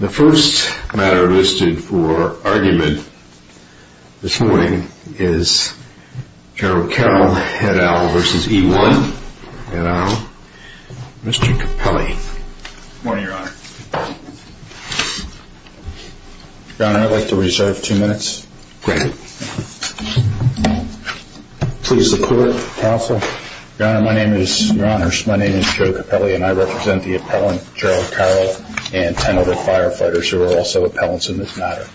The first matter listed for argument this morning is General Carroll et al. v. E One et al., Mr. Capelli. Good morning, Your Honor. Your Honor, I'd like to reserve two minutes. Great. Please support, counsel. Your Honor, my name is Joe Capelli, and I represent the appellant, General Carroll, and 10 other firefighters who are also appellants in this matter.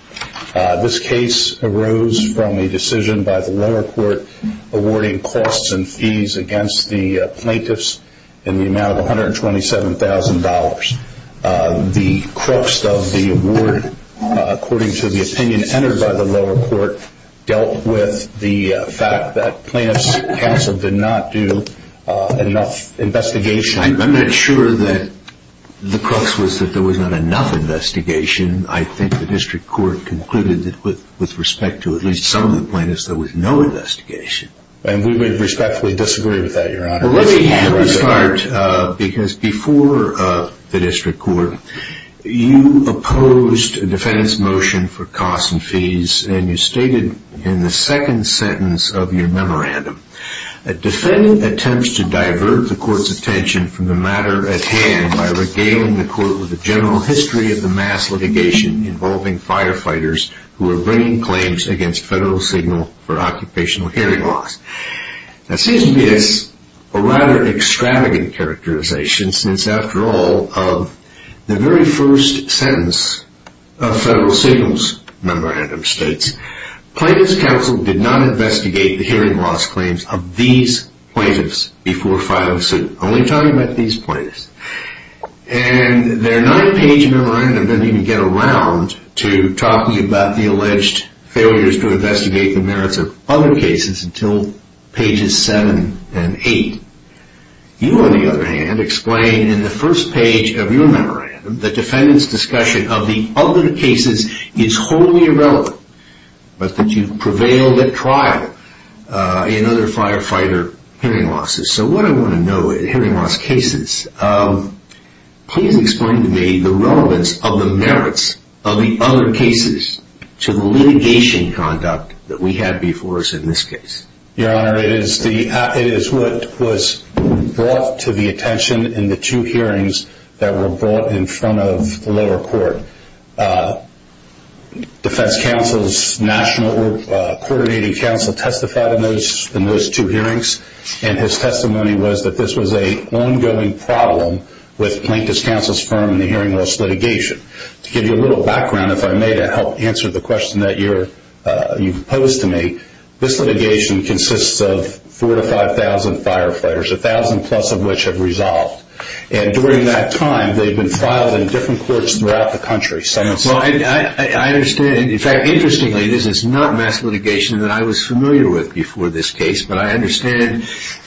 This case arose from a decision by the lower court awarding costs and fees against the plaintiffs in the amount of $127,000. The crux of the award, according to the opinion entered by the lower court, dealt with the fact that plaintiffs' counsel did not do enough investigation. I'm not sure that the crux was that there was not enough investigation. I think the district court concluded that with respect to at least some of the plaintiffs, there was no investigation. And we would respectfully disagree with that, Your Honor. Let me start because before the district court, you opposed the defendant's motion for costs and fees, and you stated in the second sentence of your memorandum, a defendant attempts to divert the court's attention from the matter at hand by regaling the court with a general history of the mass litigation involving firefighters who are bringing claims against federal signal for occupational hearing loss. That seems to be a rather extravagant characterization since, after all, the very first sentence of Federal Signal's memorandum states, Plaintiffs' counsel did not investigate the hearing loss claims of these plaintiffs before filing suit. Only talking about these plaintiffs. And their nine-page memorandum doesn't even get around to talking about the alleged failures to investigate the merits of other cases until pages 7 and 8. You, on the other hand, explain in the first page of your memorandum that the defendant's discussion of the other cases is wholly irrelevant, but that you've prevailed at trial in other firefighter hearing losses. So what I want to know in hearing loss cases, please explain to me the relevance of the merits of the other cases to the litigation conduct that we had before us in this case. Your Honor, it is what was brought to the attention in the two hearings that were brought in front of the lower court. Defense counsel's national coordinating counsel testified in those two hearings, and his testimony was that this was an ongoing problem with Plaintiffs' counsel's firm in the hearing loss litigation. To give you a little background, if I may, to help answer the question that you posed to me, this litigation consists of 4,000 to 5,000 firefighters, 1,000 plus of which have resolved. During that time, they've been filed in different courts throughout the country. I understand. In fact, interestingly, this is not mass litigation that I was familiar with before this case, but I understand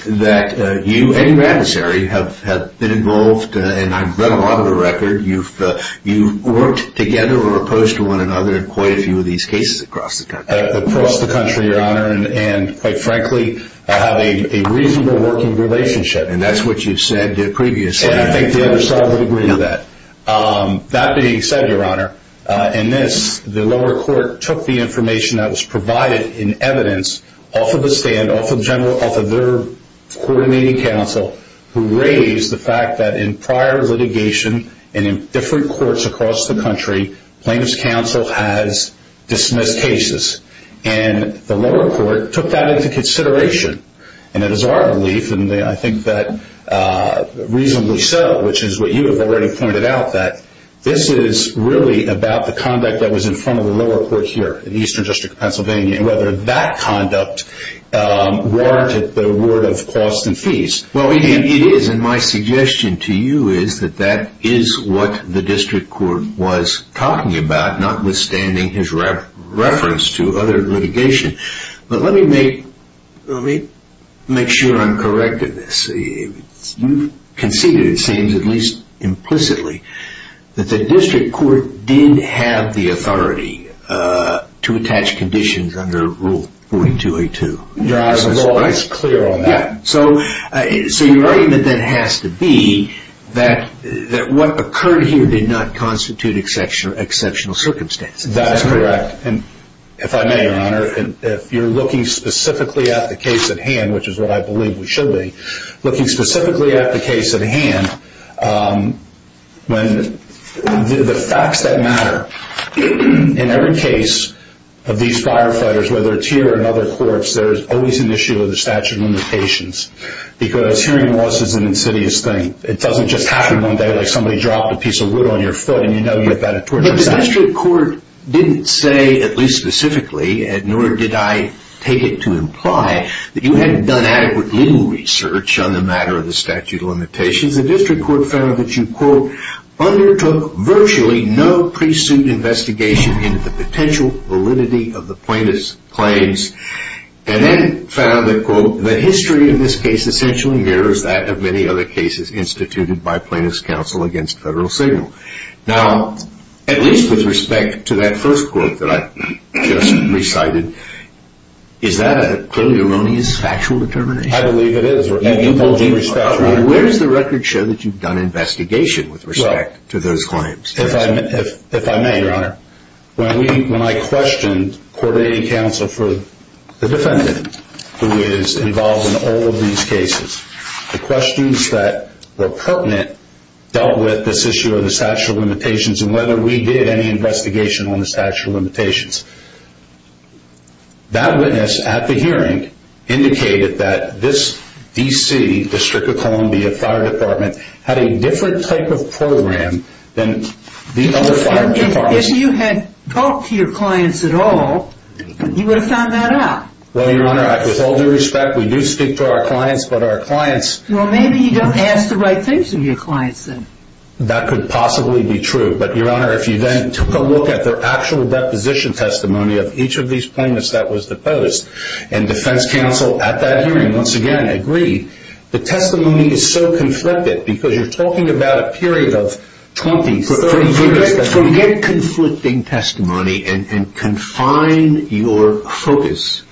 that you and your adversary have been involved, and I've read a lot of the record. You've worked together or opposed to one another in quite a few of these cases across the country. Across the country, Your Honor, and quite frankly, have a reasonable working relationship. And that's what you said previously. And I think the other side would agree with that. That being said, Your Honor, in this, the lower court took the information that was provided in evidence off of the stand, off of their coordinating counsel, who raised the fact that in prior litigation and in different courts across the country, Plaintiffs' counsel has dismissed cases, and the lower court took that into consideration. And it is our belief, and I think that reasonably so, which is what you have already pointed out, that this is really about the conduct that was in front of the lower court here in the Eastern District of Pennsylvania and whether that conduct warranted the award of costs and fees. Well, it is, and my suggestion to you is that that is what the district court was talking about, notwithstanding his reference to other litigation. But let me make sure I'm correct in this. You conceded, it seems, at least implicitly, that the district court did have the authority to attach conditions under Rule 4282. Your Honor, the law is clear on that. So your argument then has to be that what occurred here did not constitute exceptional circumstances. That is correct. And if I may, Your Honor, if you're looking specifically at the case at hand, which is what I believe we should be, looking specifically at the case at hand, the facts that matter in every case of these firefighters, whether it's here or in other courts, there's always an issue of the statute of limitations, because hearing loss is an insidious thing. It doesn't just happen one day, like somebody dropped a piece of wood on your foot, and you know you've got a torture sentence. The district court didn't say, at least specifically, nor did I take it to imply that you hadn't done adequate legal research on the matter of the statute of limitations. The district court found that you, quote, undertook virtually no pre-suit investigation into the potential validity of the plaintiff's claims, and then found that, quote, the history of this case essentially mirrors that of many other cases instituted by plaintiff's counsel against Federal Signal. Now, at least with respect to that first quote that I just recited, is that a clearly erroneous factual determination? I believe it is, Your Honor. Where does the record show that you've done investigation with respect to those claims? If I may, Your Honor, when I questioned coordinating counsel for the defendant, who is involved in all of these cases, the questions that were pertinent dealt with this issue of the statute of limitations and whether we did any investigation on the statute of limitations. That witness at the hearing indicated that this D.C., District of Columbia Fire Department, had a different type of program than the other fire departments. If you had talked to your clients at all, you would have found that out. Well, Your Honor, with all due respect, we do speak to our clients, but our clients... Well, maybe you don't ask the right things of your clients, then. That could possibly be true. But, Your Honor, if you then took a look at their actual deposition testimony of each of these plaintiffs that was deposed, and defense counsel at that hearing, once again, agreed, the testimony is so conflicted because you're talking about a period of 20, 30 years... To get conflicting testimony and confine your focus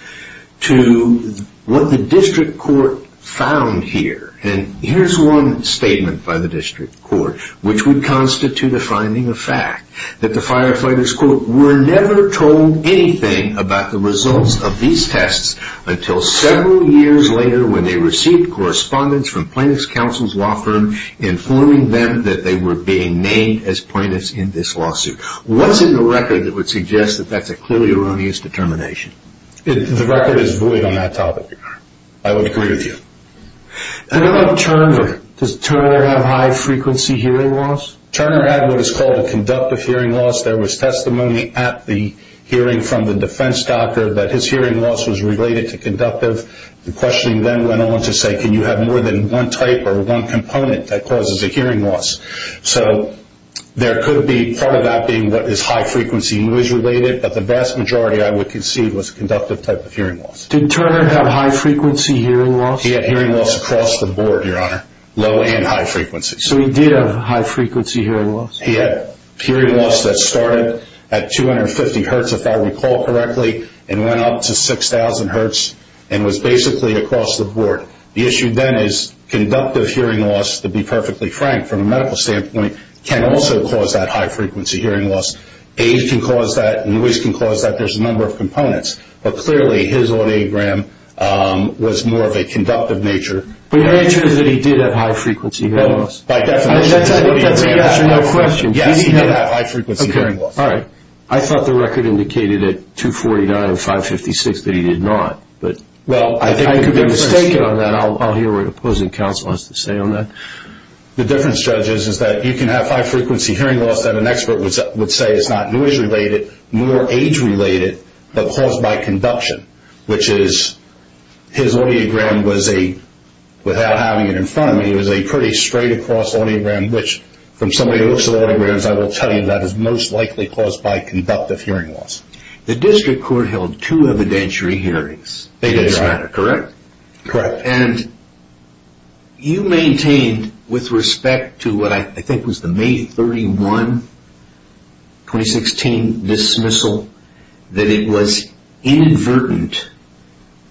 to what the district court found here, and here's one statement by the district court, which would constitute a finding of fact, that the firefighters, quote, were never told anything about the results of these tests until several years later when they received correspondence from plaintiff's counsel's law firm informing them that they were being named as plaintiffs in this lawsuit. What's in the record that would suggest that that's a clearly erroneous determination? The record is void on that topic, Your Honor. I would agree with you. What about Turner? Does Turner have high frequency hearing loss? Turner had what is called a conductive hearing loss. There was testimony at the hearing from the defense doctor that his hearing loss was related to conductive. The questioning then went on to say, can you have more than one type or one component that causes a hearing loss? So there could be part of that being what is high frequency noise related, but the vast majority, I would concede, was conductive type of hearing loss. Did Turner have high frequency hearing loss? He had hearing loss across the board, Your Honor, low and high frequency. So he did have high frequency hearing loss? He had hearing loss that started at 250 hertz, if I recall correctly, and went up to 6,000 hertz and was basically across the board. The issue then is conductive hearing loss, to be perfectly frank from a medical standpoint, can also cause that high frequency hearing loss. Age can cause that. Noise can cause that. There's a number of components. But clearly his audiogram was more of a conductive nature. But your answer is that he did have high frequency hearing loss? By definition, yes. That's an answer to my question. Yes, he did have high frequency hearing loss. All right. I thought the record indicated at 249 and 556 that he did not. But I could be mistaken on that. I'll hear what opposing counsel has to say on that. The difference, Judge, is that you can have high frequency hearing loss that an expert would say is not noise related, nor age related, but caused by conduction, which is his audiogram was a, without having it in front of me, was a pretty straight across audiogram, which from somebody who looks at audiograms, I will tell you that is most likely caused by conductive hearing loss. The district court held two evidentiary hearings. They did, Your Honor. Correct? Correct. And you maintained with respect to what I think was the May 31, 2016 dismissal, that it was inadvertent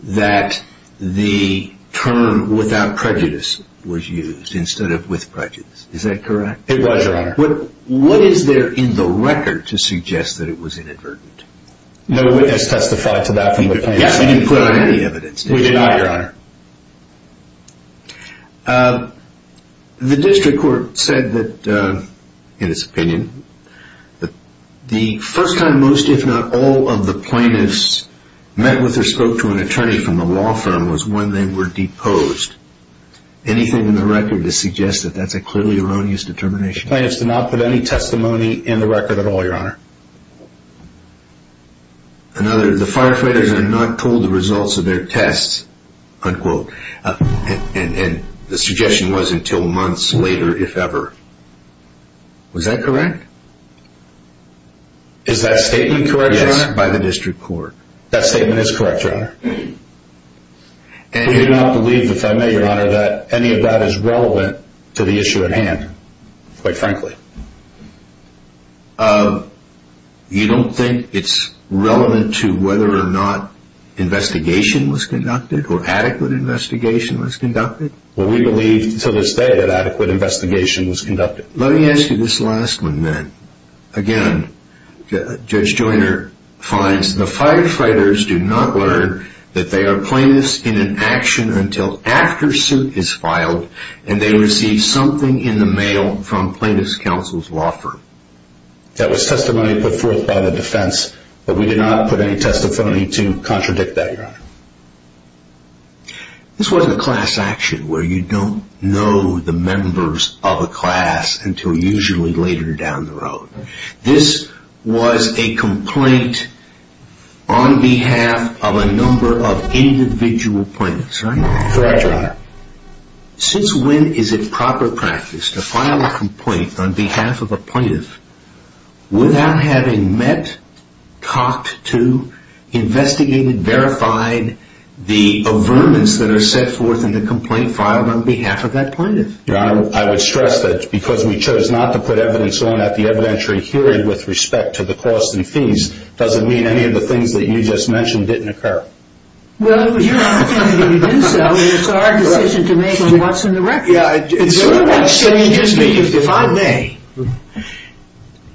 that the term without prejudice was used instead of with prejudice. Is that correct? It was, Your Honor. What is there in the record to suggest that it was inadvertent? No witness testified to that from the plaintiffs. You didn't put on any evidence, did you, Your Honor? We didn't, Your Honor. The district court said that, in its opinion, the first time most if not all of the plaintiffs met with or spoke to an attorney from the law firm was when they were deposed. Anything in the record to suggest that that's a clearly erroneous determination? The plaintiffs did not put any testimony in the record at all, Your Honor. Another, the firefighters are not told the results of their tests, unquote, and the suggestion was until months later, if ever. Was that correct? Is that statement correct, Your Honor? Yes, by the district court. That statement is correct, Your Honor. We do not believe, if I may, Your Honor, that any of that is relevant to the issue at hand, quite frankly. You don't think it's relevant to whether or not investigation was conducted or adequate investigation was conducted? Well, we believe to this day that adequate investigation was conducted. Let me ask you this last one then. Again, Judge Joyner finds the firefighters do not learn that they are plaintiffs in an action until after suit is filed and they receive something in the mail from plaintiff's counsel's law firm. That was testimony put forth by the defense, but we did not put any testimony to contradict that, Your Honor. This wasn't a class action where you don't know the members of a class until usually later down the road. This was a complaint on behalf of a number of individual plaintiffs, right? Correct, Your Honor. Since when is it proper practice to file a complaint on behalf of a plaintiff without having met, talked to, investigated, verified the averments that are set forth in the complaint filed on behalf of that plaintiff? Your Honor, I would stress that because we chose not to put evidence on at the evidentiary hearing with respect to the cost and fees, doesn't mean any of the things that you just mentioned didn't occur. Well, it was your opportunity to do so, and it's our decision to make on what's in the record. Yeah, it's sort of like saying, excuse me, if I may,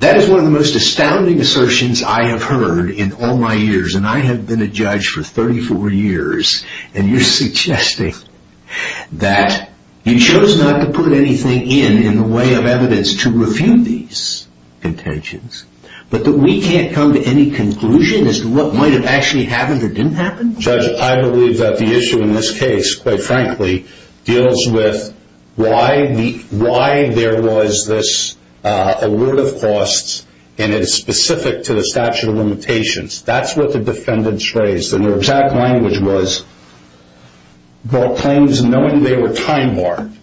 that is one of the most astounding assertions I have heard in all my years, and I have been a judge for 34 years, and you're suggesting that you chose not to put anything in in the way of evidence to refute these intentions, but that we can't come to any conclusion as to what might have actually happened or didn't happen? Judge, I believe that the issue in this case, quite frankly, deals with why there was this alert of costs, and it's specific to the statute of limitations. That's what the defendants raised, and their exact language was claims knowing they were time-marked,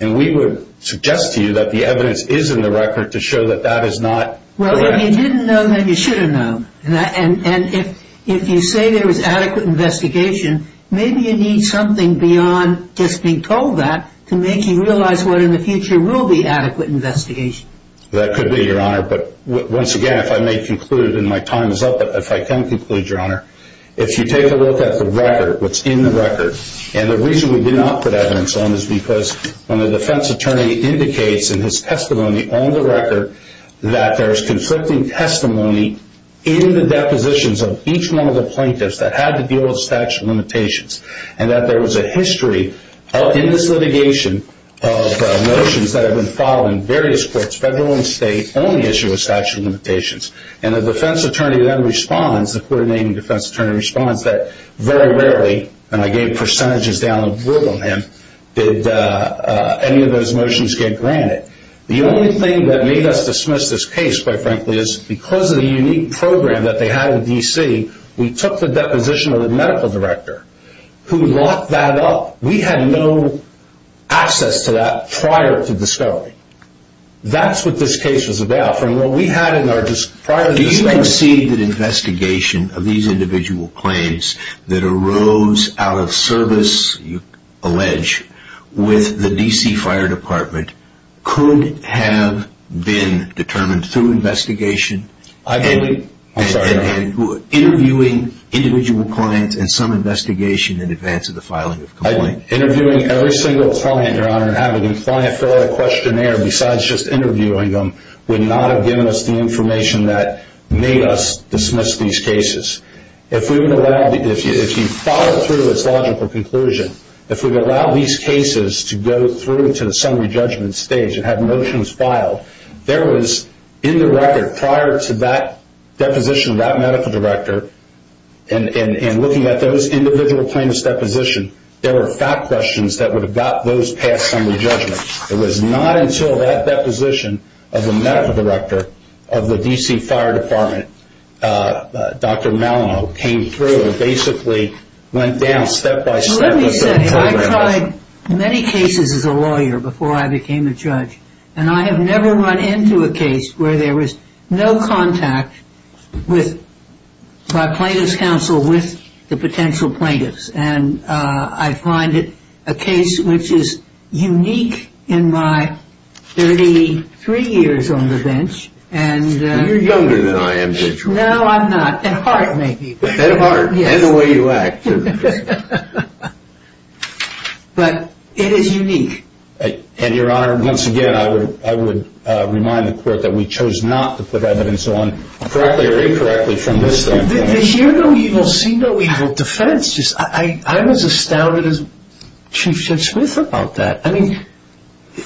and we would suggest to you that the evidence is in the record to show that that is not correct. Well, if you didn't know, then you should have known, and if you say there was adequate investigation, maybe you need something beyond just being told that to make you realize what in the future will be adequate investigation. That could be, Your Honor, but once again, if I may conclude, and my time is up, if I can conclude, Your Honor, if you take a look at the record, what's in the record, and the reason we did not put evidence on is because when the defense attorney indicates in his testimony on the record that there is conflicting testimony in the depositions of each one of the plaintiffs that had to deal with statute of limitations, and that there was a history in this litigation of notions that have been filed in various courts, federal and state, only issued with statute of limitations, and the defense attorney then responds, the court-named defense attorney responds, that very rarely, and I gave percentages down the road on him, did any of those notions get granted. The only thing that made us dismiss this case, quite frankly, is because of the unique program that they had in D.C., we took the deposition of the medical director who locked that up. We had no access to that prior to discovery. That's what this case was about. Do you concede that investigation of these individual claims that arose out of service, you allege, with the D.C. Fire Department could have been determined through investigation? I believe, I'm sorry, Your Honor. Interviewing individual clients and some investigation in advance of the filing of complaint. Interviewing every single client, Your Honor, and having a client fill out a questionnaire besides just interviewing them, would not have given us the information that made us dismiss these cases. If we would allow, if you follow through this logical conclusion, if we would allow these cases to go through to the summary judgment stage and have notions filed, there was, in the record, prior to that deposition of that medical director, and looking at those individual claimants' depositions, there were fact questions that would have got those past summary judgments. It was not until that deposition of the medical director of the D.C. Fire Department, Dr. Malino, came through and basically went down step by step. Let me say, I tried many cases as a lawyer before I became a judge, and I have never run into a case where there was no contact by plaintiff's counsel with the potential plaintiffs, and I find it a case which is unique in my 33 years on the bench. You're younger than I am, Judge Roy. No, I'm not, at heart, maybe. At heart, and the way you act. But it is unique. And, Your Honor, once again, I would remind the court that we chose not to put evidence on, correctly or incorrectly, from this thing. The hear no evil, see no evil defense. I'm as astounded as Chief Judge Smith about that. I mean,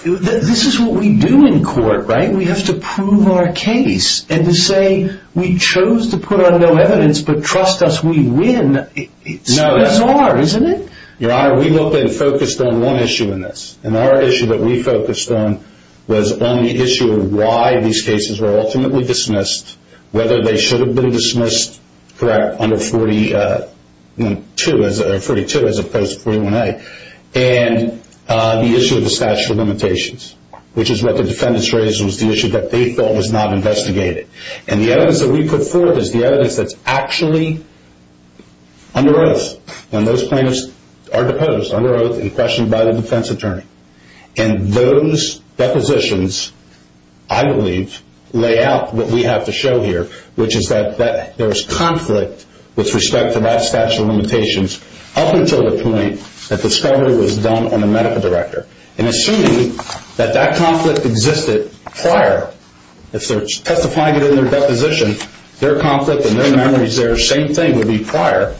this is what we do in court, right? We have to prove our case, and to say we chose to put on no evidence but trust us we win, it's bizarre, isn't it? Your Honor, we looked and focused on one issue in this, and our issue that we focused on was on the issue of why these cases were ultimately dismissed, whether they should have been dismissed under 42 as opposed to 41A, and the issue of the statute of limitations, which is what the defendants raised was the issue that they felt was not investigated. And the evidence that we put forth is the evidence that's actually under us. And those plaintiffs are deposed under oath and questioned by the defense attorney. And those depositions, I believe, lay out what we have to show here, which is that there was conflict with respect to that statute of limitations up until the point that discovery was done on a medical director. And assuming that that conflict existed prior, if they're testifying it in their deposition, their conflict and their memories there, their same thing would be prior.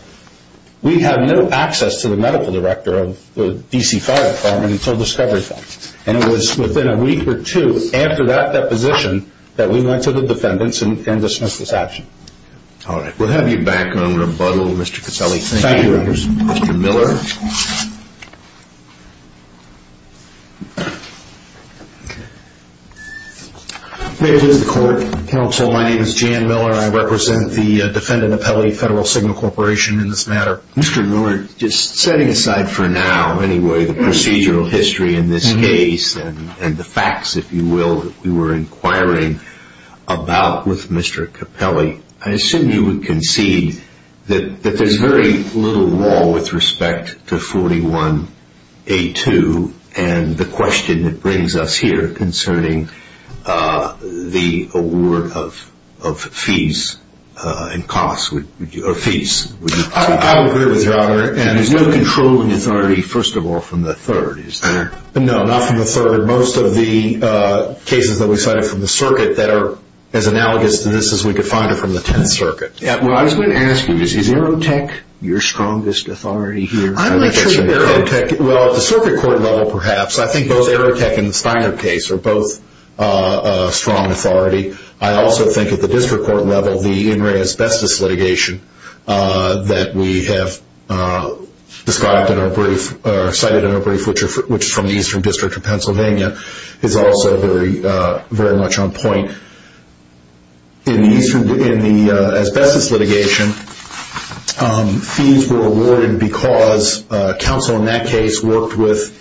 We have no access to the medical director of the D.C. Fire Department until discovery is done. And it was within a week or two after that deposition that we went to the defendants and dismissed this action. All right. We'll have you back on rebuttal, Mr. Caselli. Thank you, Your Honor. Thank you, Mr. Miller. May it please the Court. Counsel, my name is Jan Miller. I represent the defendant, Capelli, Federal Signal Corporation in this matter. Mr. Miller, just setting aside for now, anyway, the procedural history in this case and the facts, if you will, that we were inquiring about with Mr. Capelli, I assume you would concede that there's very little law with respect to the fact that 41A2 and the question it brings us here concerning the award of fees and costs or fees. I would agree with you, Your Honor. And there's no controlling authority, first of all, from the Third, is there? No, not from the Third. Most of the cases that we cited from the circuit that are as analogous to this as we could find are from the Tenth Circuit. Well, I was going to ask you, is Aerotech your strongest authority here? Well, at the circuit court level, perhaps. I think both Aerotech and the Steiner case are both a strong authority. I also think at the district court level, the in-ray asbestos litigation that we have described in our brief or cited in our brief, which is from the Eastern District of Pennsylvania, is also very much on point. In the asbestos litigation, fees were awarded because counsel in that case worked with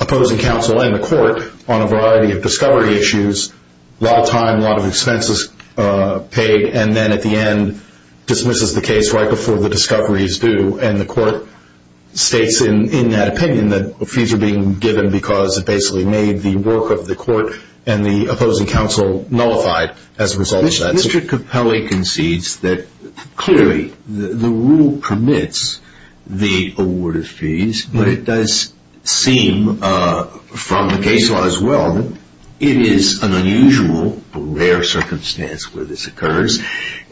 opposing counsel and the court on a variety of discovery issues, a lot of time, a lot of expenses paid, and then at the end dismisses the case right before the discovery is due. And the court states in that opinion that fees are being given because it basically made the work of the court and the opposing counsel nullified as a result of that. Mr. Capelli concedes that, clearly, the rule permits the award of fees, but it does seem from the case law as well that it is an unusual, rare circumstance where this occurs,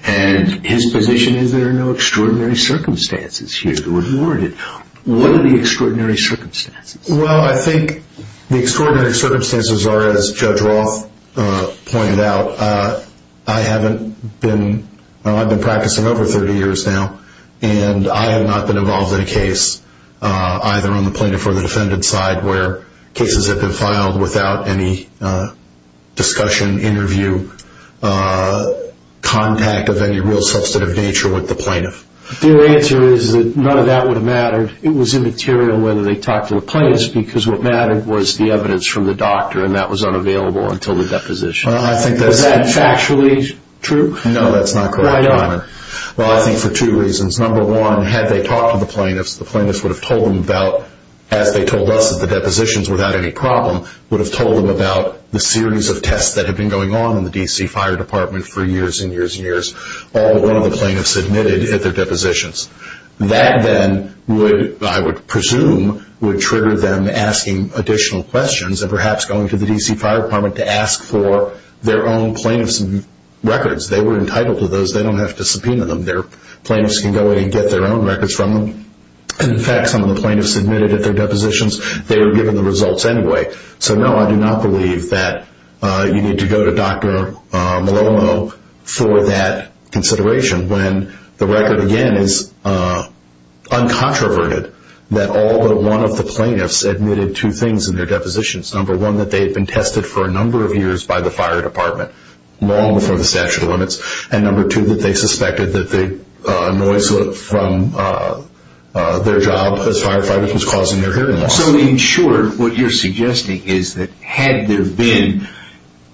and his position is there are no extraordinary circumstances here to award it. What are the extraordinary circumstances? Well, I think the extraordinary circumstances are, as Judge Roth pointed out, I've been practicing over 30 years now, and I have not been involved in a case, either on the plaintiff or the defendant side, where cases have been filed without any discussion, interview, contact of any real substantive nature with the plaintiff. Their answer is that none of that would have mattered. It was immaterial whether they talked to the plaintiffs, because what mattered was the evidence from the doctor, and that was unavailable until the deposition. Was that factually true? No, that's not correct. Why not? Well, I think for two reasons. Number one, had they talked to the plaintiffs, the plaintiffs would have told them about, as they told us at the depositions without any problem, would have told them about the series of tests that had been going on in the D.C. Fire Department for years and years and years, all of the plaintiffs admitted at their depositions. That then, I would presume, would trigger them asking additional questions and perhaps going to the D.C. Fire Department to ask for their own plaintiffs' records. They were entitled to those. They don't have to subpoena them. Their plaintiffs can go in and get their own records from them. In fact, some of the plaintiffs admitted at their depositions, they were given the results anyway. So, no, I do not believe that you need to go to Dr. Malomo for that consideration when the record, again, is uncontroverted that all but one of the plaintiffs admitted two things in their depositions. Number one, that they had been tested for a number of years by the Fire Department, long before the statute of limits, and number two, that they suspected that the noise from their job as firefighters was causing their hearing loss. So, in short, what you're suggesting is that had there been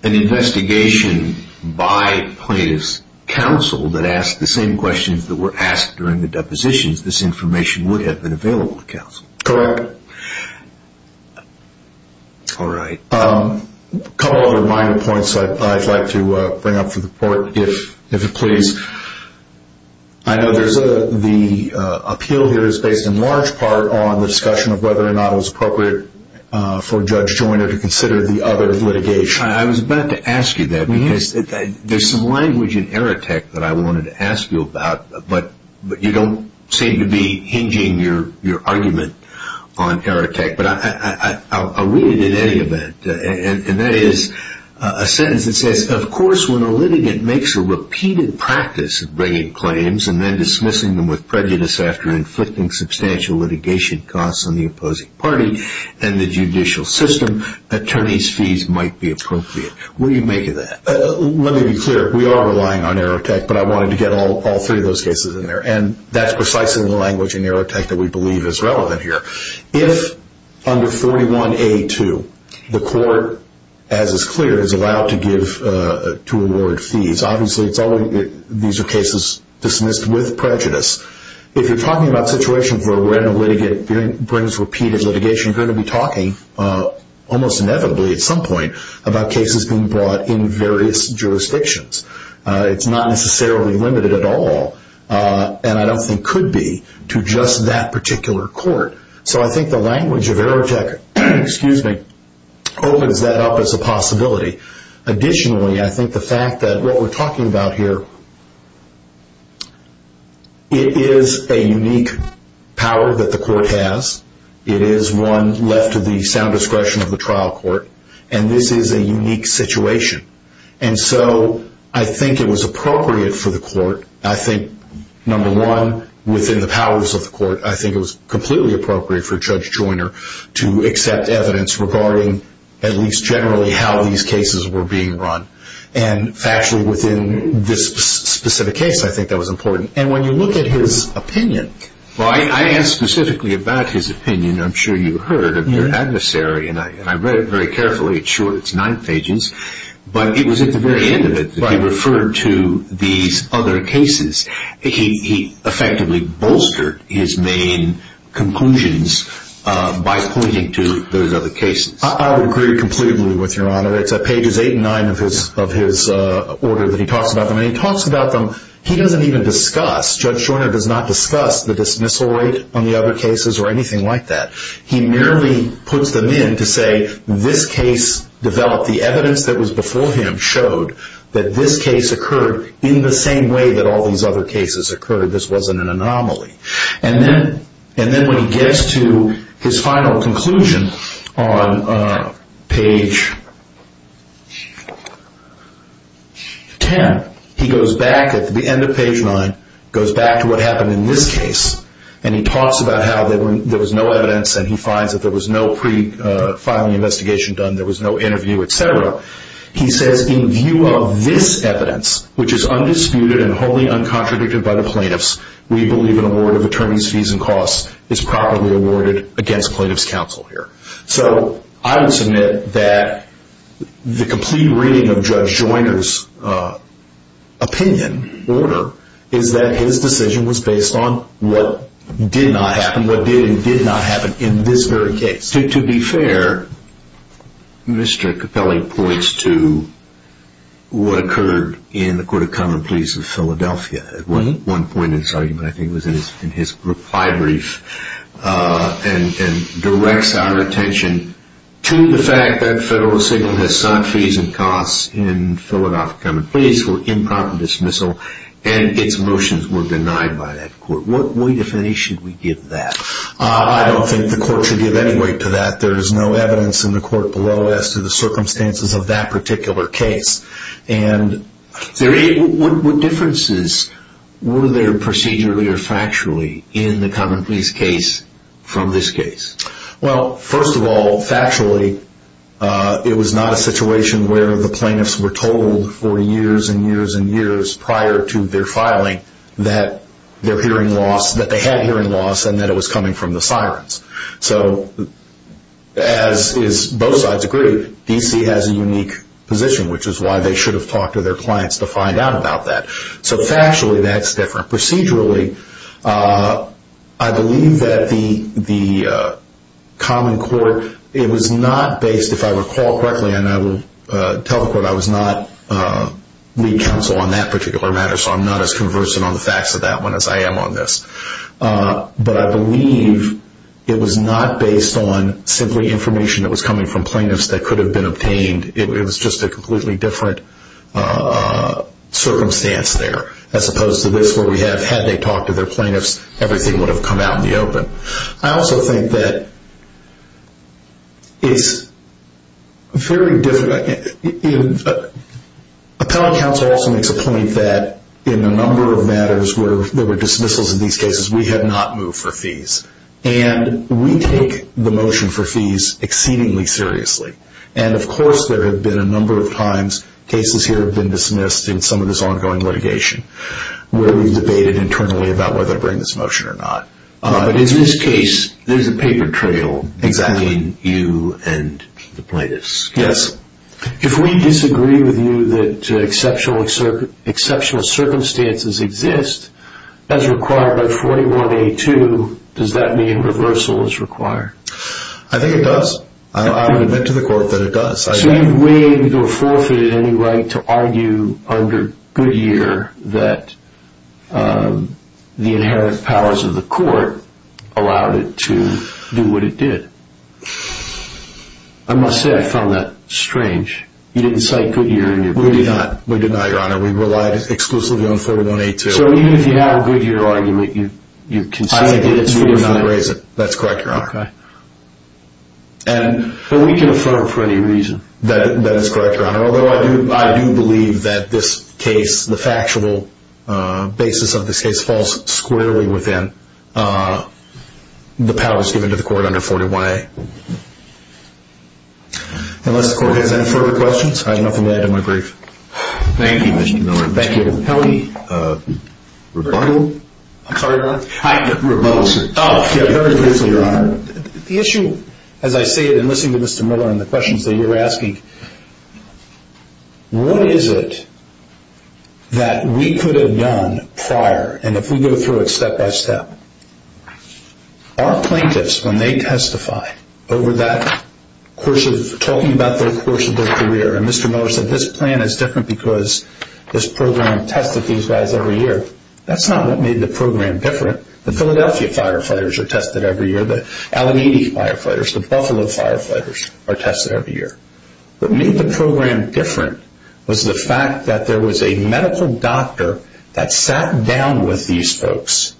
an investigation by plaintiffs' counsel that asked the same questions that were asked during the depositions, this information would have been available to counsel. Correct. All right. A couple other minor points I'd like to bring up for the report, if it please. I know the appeal here is based in large part on the discussion of whether or not it was appropriate for Judge Joyner to consider the other litigation. I was about to ask you that, because there's some language in Errotech that I wanted to ask you about, but you don't seem to be hinging your argument on Errotech. But I'll read it in any event, and that is a sentence that says, of course when a litigant makes a repeated practice of bringing claims and then dismissing them with prejudice after inflicting substantial litigation costs on the opposing party and the judicial system, attorney's fees might be appropriate. What do you make of that? Let me be clear. We are relying on Errotech, but I wanted to get all three of those cases in there, and that's precisely the language in Errotech that we believe is relevant here. If under 41A2 the court, as is clear, is allowed to award fees, obviously these are cases dismissed with prejudice. If you're talking about a situation where a random litigant brings repeated litigation, you're going to be talking almost inevitably at some point about cases being brought in various jurisdictions. It's not necessarily limited at all, and I don't think could be to just that particular court. So I think the language of Errotech opens that up as a possibility. Additionally, I think the fact that what we're talking about here, it is a unique power that the court has. It is one left to the sound discretion of the trial court, and this is a unique situation. And so I think it was appropriate for the court, I think, number one, within the powers of the court, I think it was completely appropriate for Judge Joyner to accept evidence regarding at least generally how these cases were being run. And factually within this specific case, I think that was important. And when you look at his opinion... Well, I asked specifically about his opinion. I'm sure you heard of your adversary, and I read it very carefully. It's short. It's nine pages. But it was at the very end of it that he referred to these other cases. He effectively bolstered his main conclusions by pointing to those other cases. I would agree completely with Your Honor. It's at pages 8 and 9 of his order that he talks about them. And he talks about them. He doesn't even discuss. Judge Joyner does not discuss the dismissal rate on the other cases or anything like that. He merely puts them in to say this case developed. The evidence that was before him showed that this case occurred in the same way that all these other cases occurred. This wasn't an anomaly. And then when he gets to his final conclusion on page 10, he goes back at the end of page 9, goes back to what happened in this case, and he talks about how there was no evidence, and he finds that there was no pre-filing investigation done, there was no interview, et cetera. He says, in view of this evidence, which is undisputed and wholly uncontradicted by the plaintiffs, we believe an award of attorney's fees and costs is properly awarded against plaintiff's counsel here. So I would submit that the complete reading of Judge Joyner's opinion, order, is that his decision was based on what did not happen, what did and did not happen in this very case. To be fair, Mr. Capelli points to what occurred in the Court of Common Pleas of Philadelphia. At one point in his argument, I think it was in his reply brief, and directs our attention to the fact that federal assignment has sought fees and costs in Philadelphia Common Pleas for improper dismissal and its motions were denied by that court. What way, if any, should we give that? I don't think the court should give any weight to that. There is no evidence in the court below as to the circumstances of that particular case. What differences were there procedurally or factually in the Common Pleas case from this case? Well, first of all, factually, it was not a situation where the plaintiffs were told for years and years and years prior to their filing that they had hearing loss and that it was coming from the sirens. So, as both sides agree, D.C. has a unique position, which is why they should have talked to their clients to find out about that. So factually, that's different. Procedurally, I believe that the common court, it was not based, if I recall correctly, and I will tell the court I was not lead counsel on that particular matter, so I'm not as conversant on the facts of that one as I am on this. But I believe it was not based on simply information that was coming from plaintiffs that could have been obtained. It was just a completely different circumstance there, as opposed to this where we have had they talked to their plaintiffs, everything would have come out in the open. I also think that it's very difficult. Appellate counsel also makes a point that in a number of matters where there were dismissals in these cases, we had not moved for fees. And we take the motion for fees exceedingly seriously. And, of course, there have been a number of times cases here have been dismissed in some of this ongoing litigation where we've debated internally about whether to bring this motion or not. But in this case, there's a paper trail between you and the plaintiffs. Yes. If we disagree with you that exceptional circumstances exist as required by 41A2, does that mean reversal is required? I think it does. I would admit to the court that it does. So you've waived or forfeited any right to argue under Goodyear that the inherent powers of the court allowed it to do what it did. I must say I found that strange. You didn't cite Goodyear in your ruling. We did not, Your Honor. We relied exclusively on 41A2. So even if you have a Goodyear argument, you consistently did not raise it. That's correct, Your Honor. Okay. But we can affirm for any reason. That is correct, Your Honor, although I do believe that this case, the factual basis of this case falls squarely within the powers given to the court under 41A. Unless the court has any further questions, I have nothing more to add to my brief. Thank you, Mr. Miller. Thank you. Kelly? I'm sorry, Your Honor? Rebuttal, sir. Very briefly, Your Honor. The issue, as I say it in listening to Mr. Miller and the questions that you're asking, what is it that we could have done prior, and if we go through it step by step, our plaintiffs, when they testify over that course of talking about their course of their career, and Mr. Miller said this plan is different because this program tested these guys every year, that's not what made the program different. The Philadelphia firefighters are tested every year. The Alameda firefighters, the Buffalo firefighters are tested every year. What made the program different was the fact that there was a medical doctor that sat down with these folks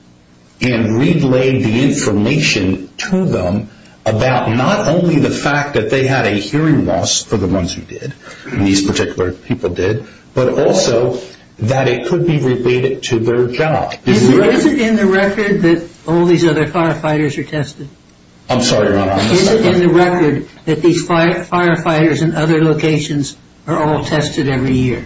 and relayed the information to them about not only the fact that they had a hearing loss for the ones who did, these particular people did, but also that it could be related to their job. Is it in the record that all these other firefighters are tested? I'm sorry, Your Honor. Is it in the record that these firefighters in other locations are all tested every year?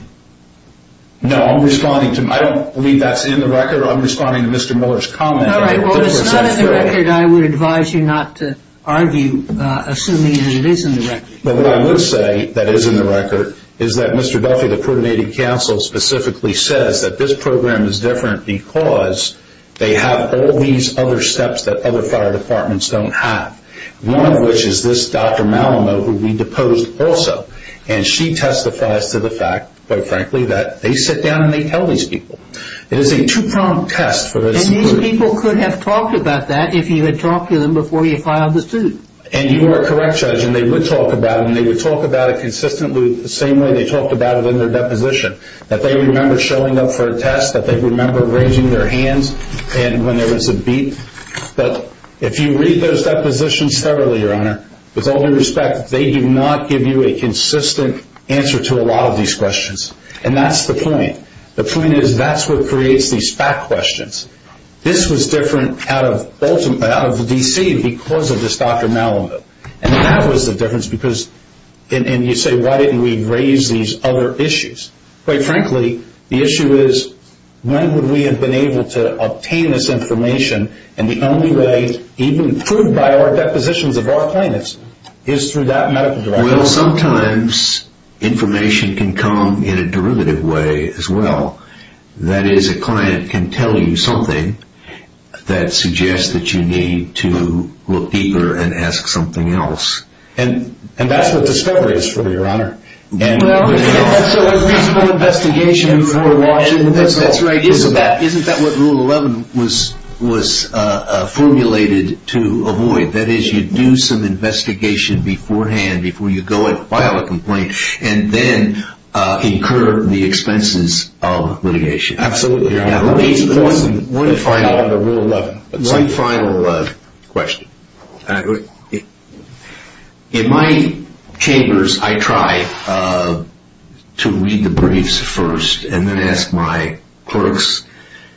No, I'm responding to Mr. Miller. I don't believe that's in the record. I'm responding to Mr. Miller's comment. All right. Well, if it's not in the record, I would advise you not to argue, assuming that it is in the record. What I would say that is in the record is that Mr. Duffy, the Pruitt Native Council, specifically says that this program is different because they have all these other steps that other fire departments don't have, one of which is this Dr. Malamud, who we deposed also, and she testifies to the fact, quite frankly, that they sit down and they tell these people. It is a two-prong test for this group. These people could have talked about that if you had talked to them before you filed the suit. And you are correct, Judge, and they would talk about it, and they would talk about it consistently the same way they talked about it in their deposition, that they remember showing up for a test, that they remember raising their hands when there was a beep. But if you read those depositions thoroughly, Your Honor, with all due respect, they do not give you a consistent answer to a lot of these questions, and that's the point. The point is that's what creates these fact questions. This was different out of the D.C. because of this Dr. Malamud, and that was the difference because, and you say, why didn't we raise these other issues? Quite frankly, the issue is when would we have been able to obtain this information, and the only way, even proved by our depositions of our claimants, is through that medical director. Well, sometimes information can come in a derivative way as well. That is, a client can tell you something that suggests that you need to look deeper and ask something else. And that's what discovery is for me, Your Honor. So a principle investigation before launching the whistle. That's right. Isn't that what Rule 11 was formulated to avoid? That is, you do some investigation beforehand, before you go and file a complaint, and then incur the expenses of litigation. Absolutely, Your Honor. One final question. In my chambers, I try to read the briefs first and then ask my clerks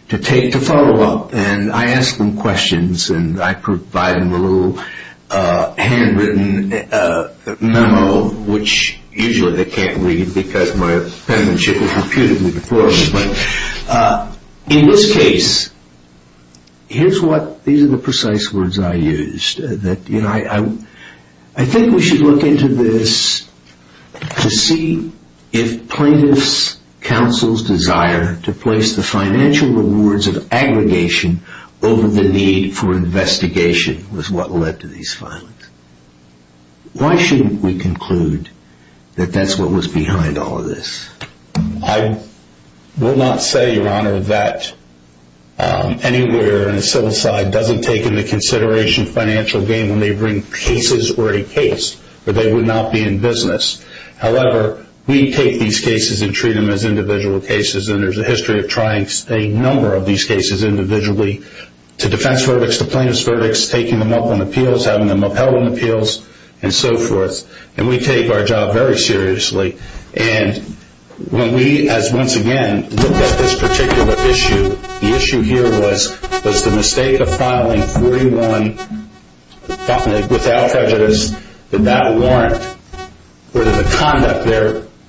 to follow up. And I ask them questions and I provide them a little handwritten memo, which usually they can't read because my penmanship is reputedly deplorable. But in this case, here's what, these are the precise words I used. I think we should look into this to see if plaintiffs' counsel's desire to place the financial rewards of aggregation over the need for investigation was what led to these filings. Why shouldn't we conclude that that's what was behind all of this? I will not say, Your Honor, that anywhere in the civil side doesn't take into consideration financial gain when they bring cases or a case where they would not be in business. However, we take these cases and treat them as individual cases, and there's a history of trying a number of these cases individually, to defense verdicts, to plaintiff's verdicts, taking them up on appeals, having them upheld on appeals, and so forth. And we take our job very seriously. And when we, as once again, looked at this particular issue, the issue here was, was the mistake of filing 3-1 without prejudice, that that warrant, or the conduct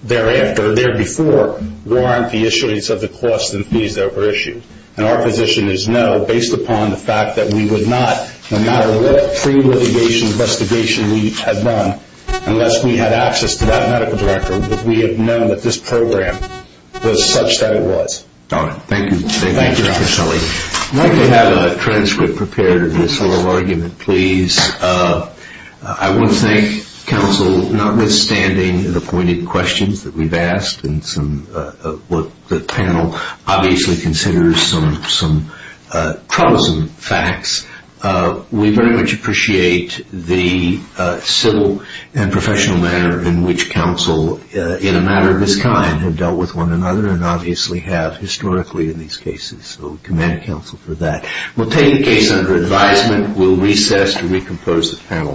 thereafter, or there before, warrant the issuance of the costs and fees that were issued. And our position is no, based upon the fact that we would not, no matter what pre-litigation investigation we had done, unless we had access to that medical director, would we have known that this program was such that it was. All right. Thank you. Thank you, Your Honor. I'd like to have a transcript prepared of this whole argument, please. I want to thank counsel, notwithstanding the pointed questions that we've asked and what the panel obviously considers some troublesome facts. We very much appreciate the civil and professional manner in which counsel, in a matter of this kind, have dealt with one another and obviously have historically in these cases. So we commend counsel for that. We'll take the case under advisement. We'll recess to recompose the panel.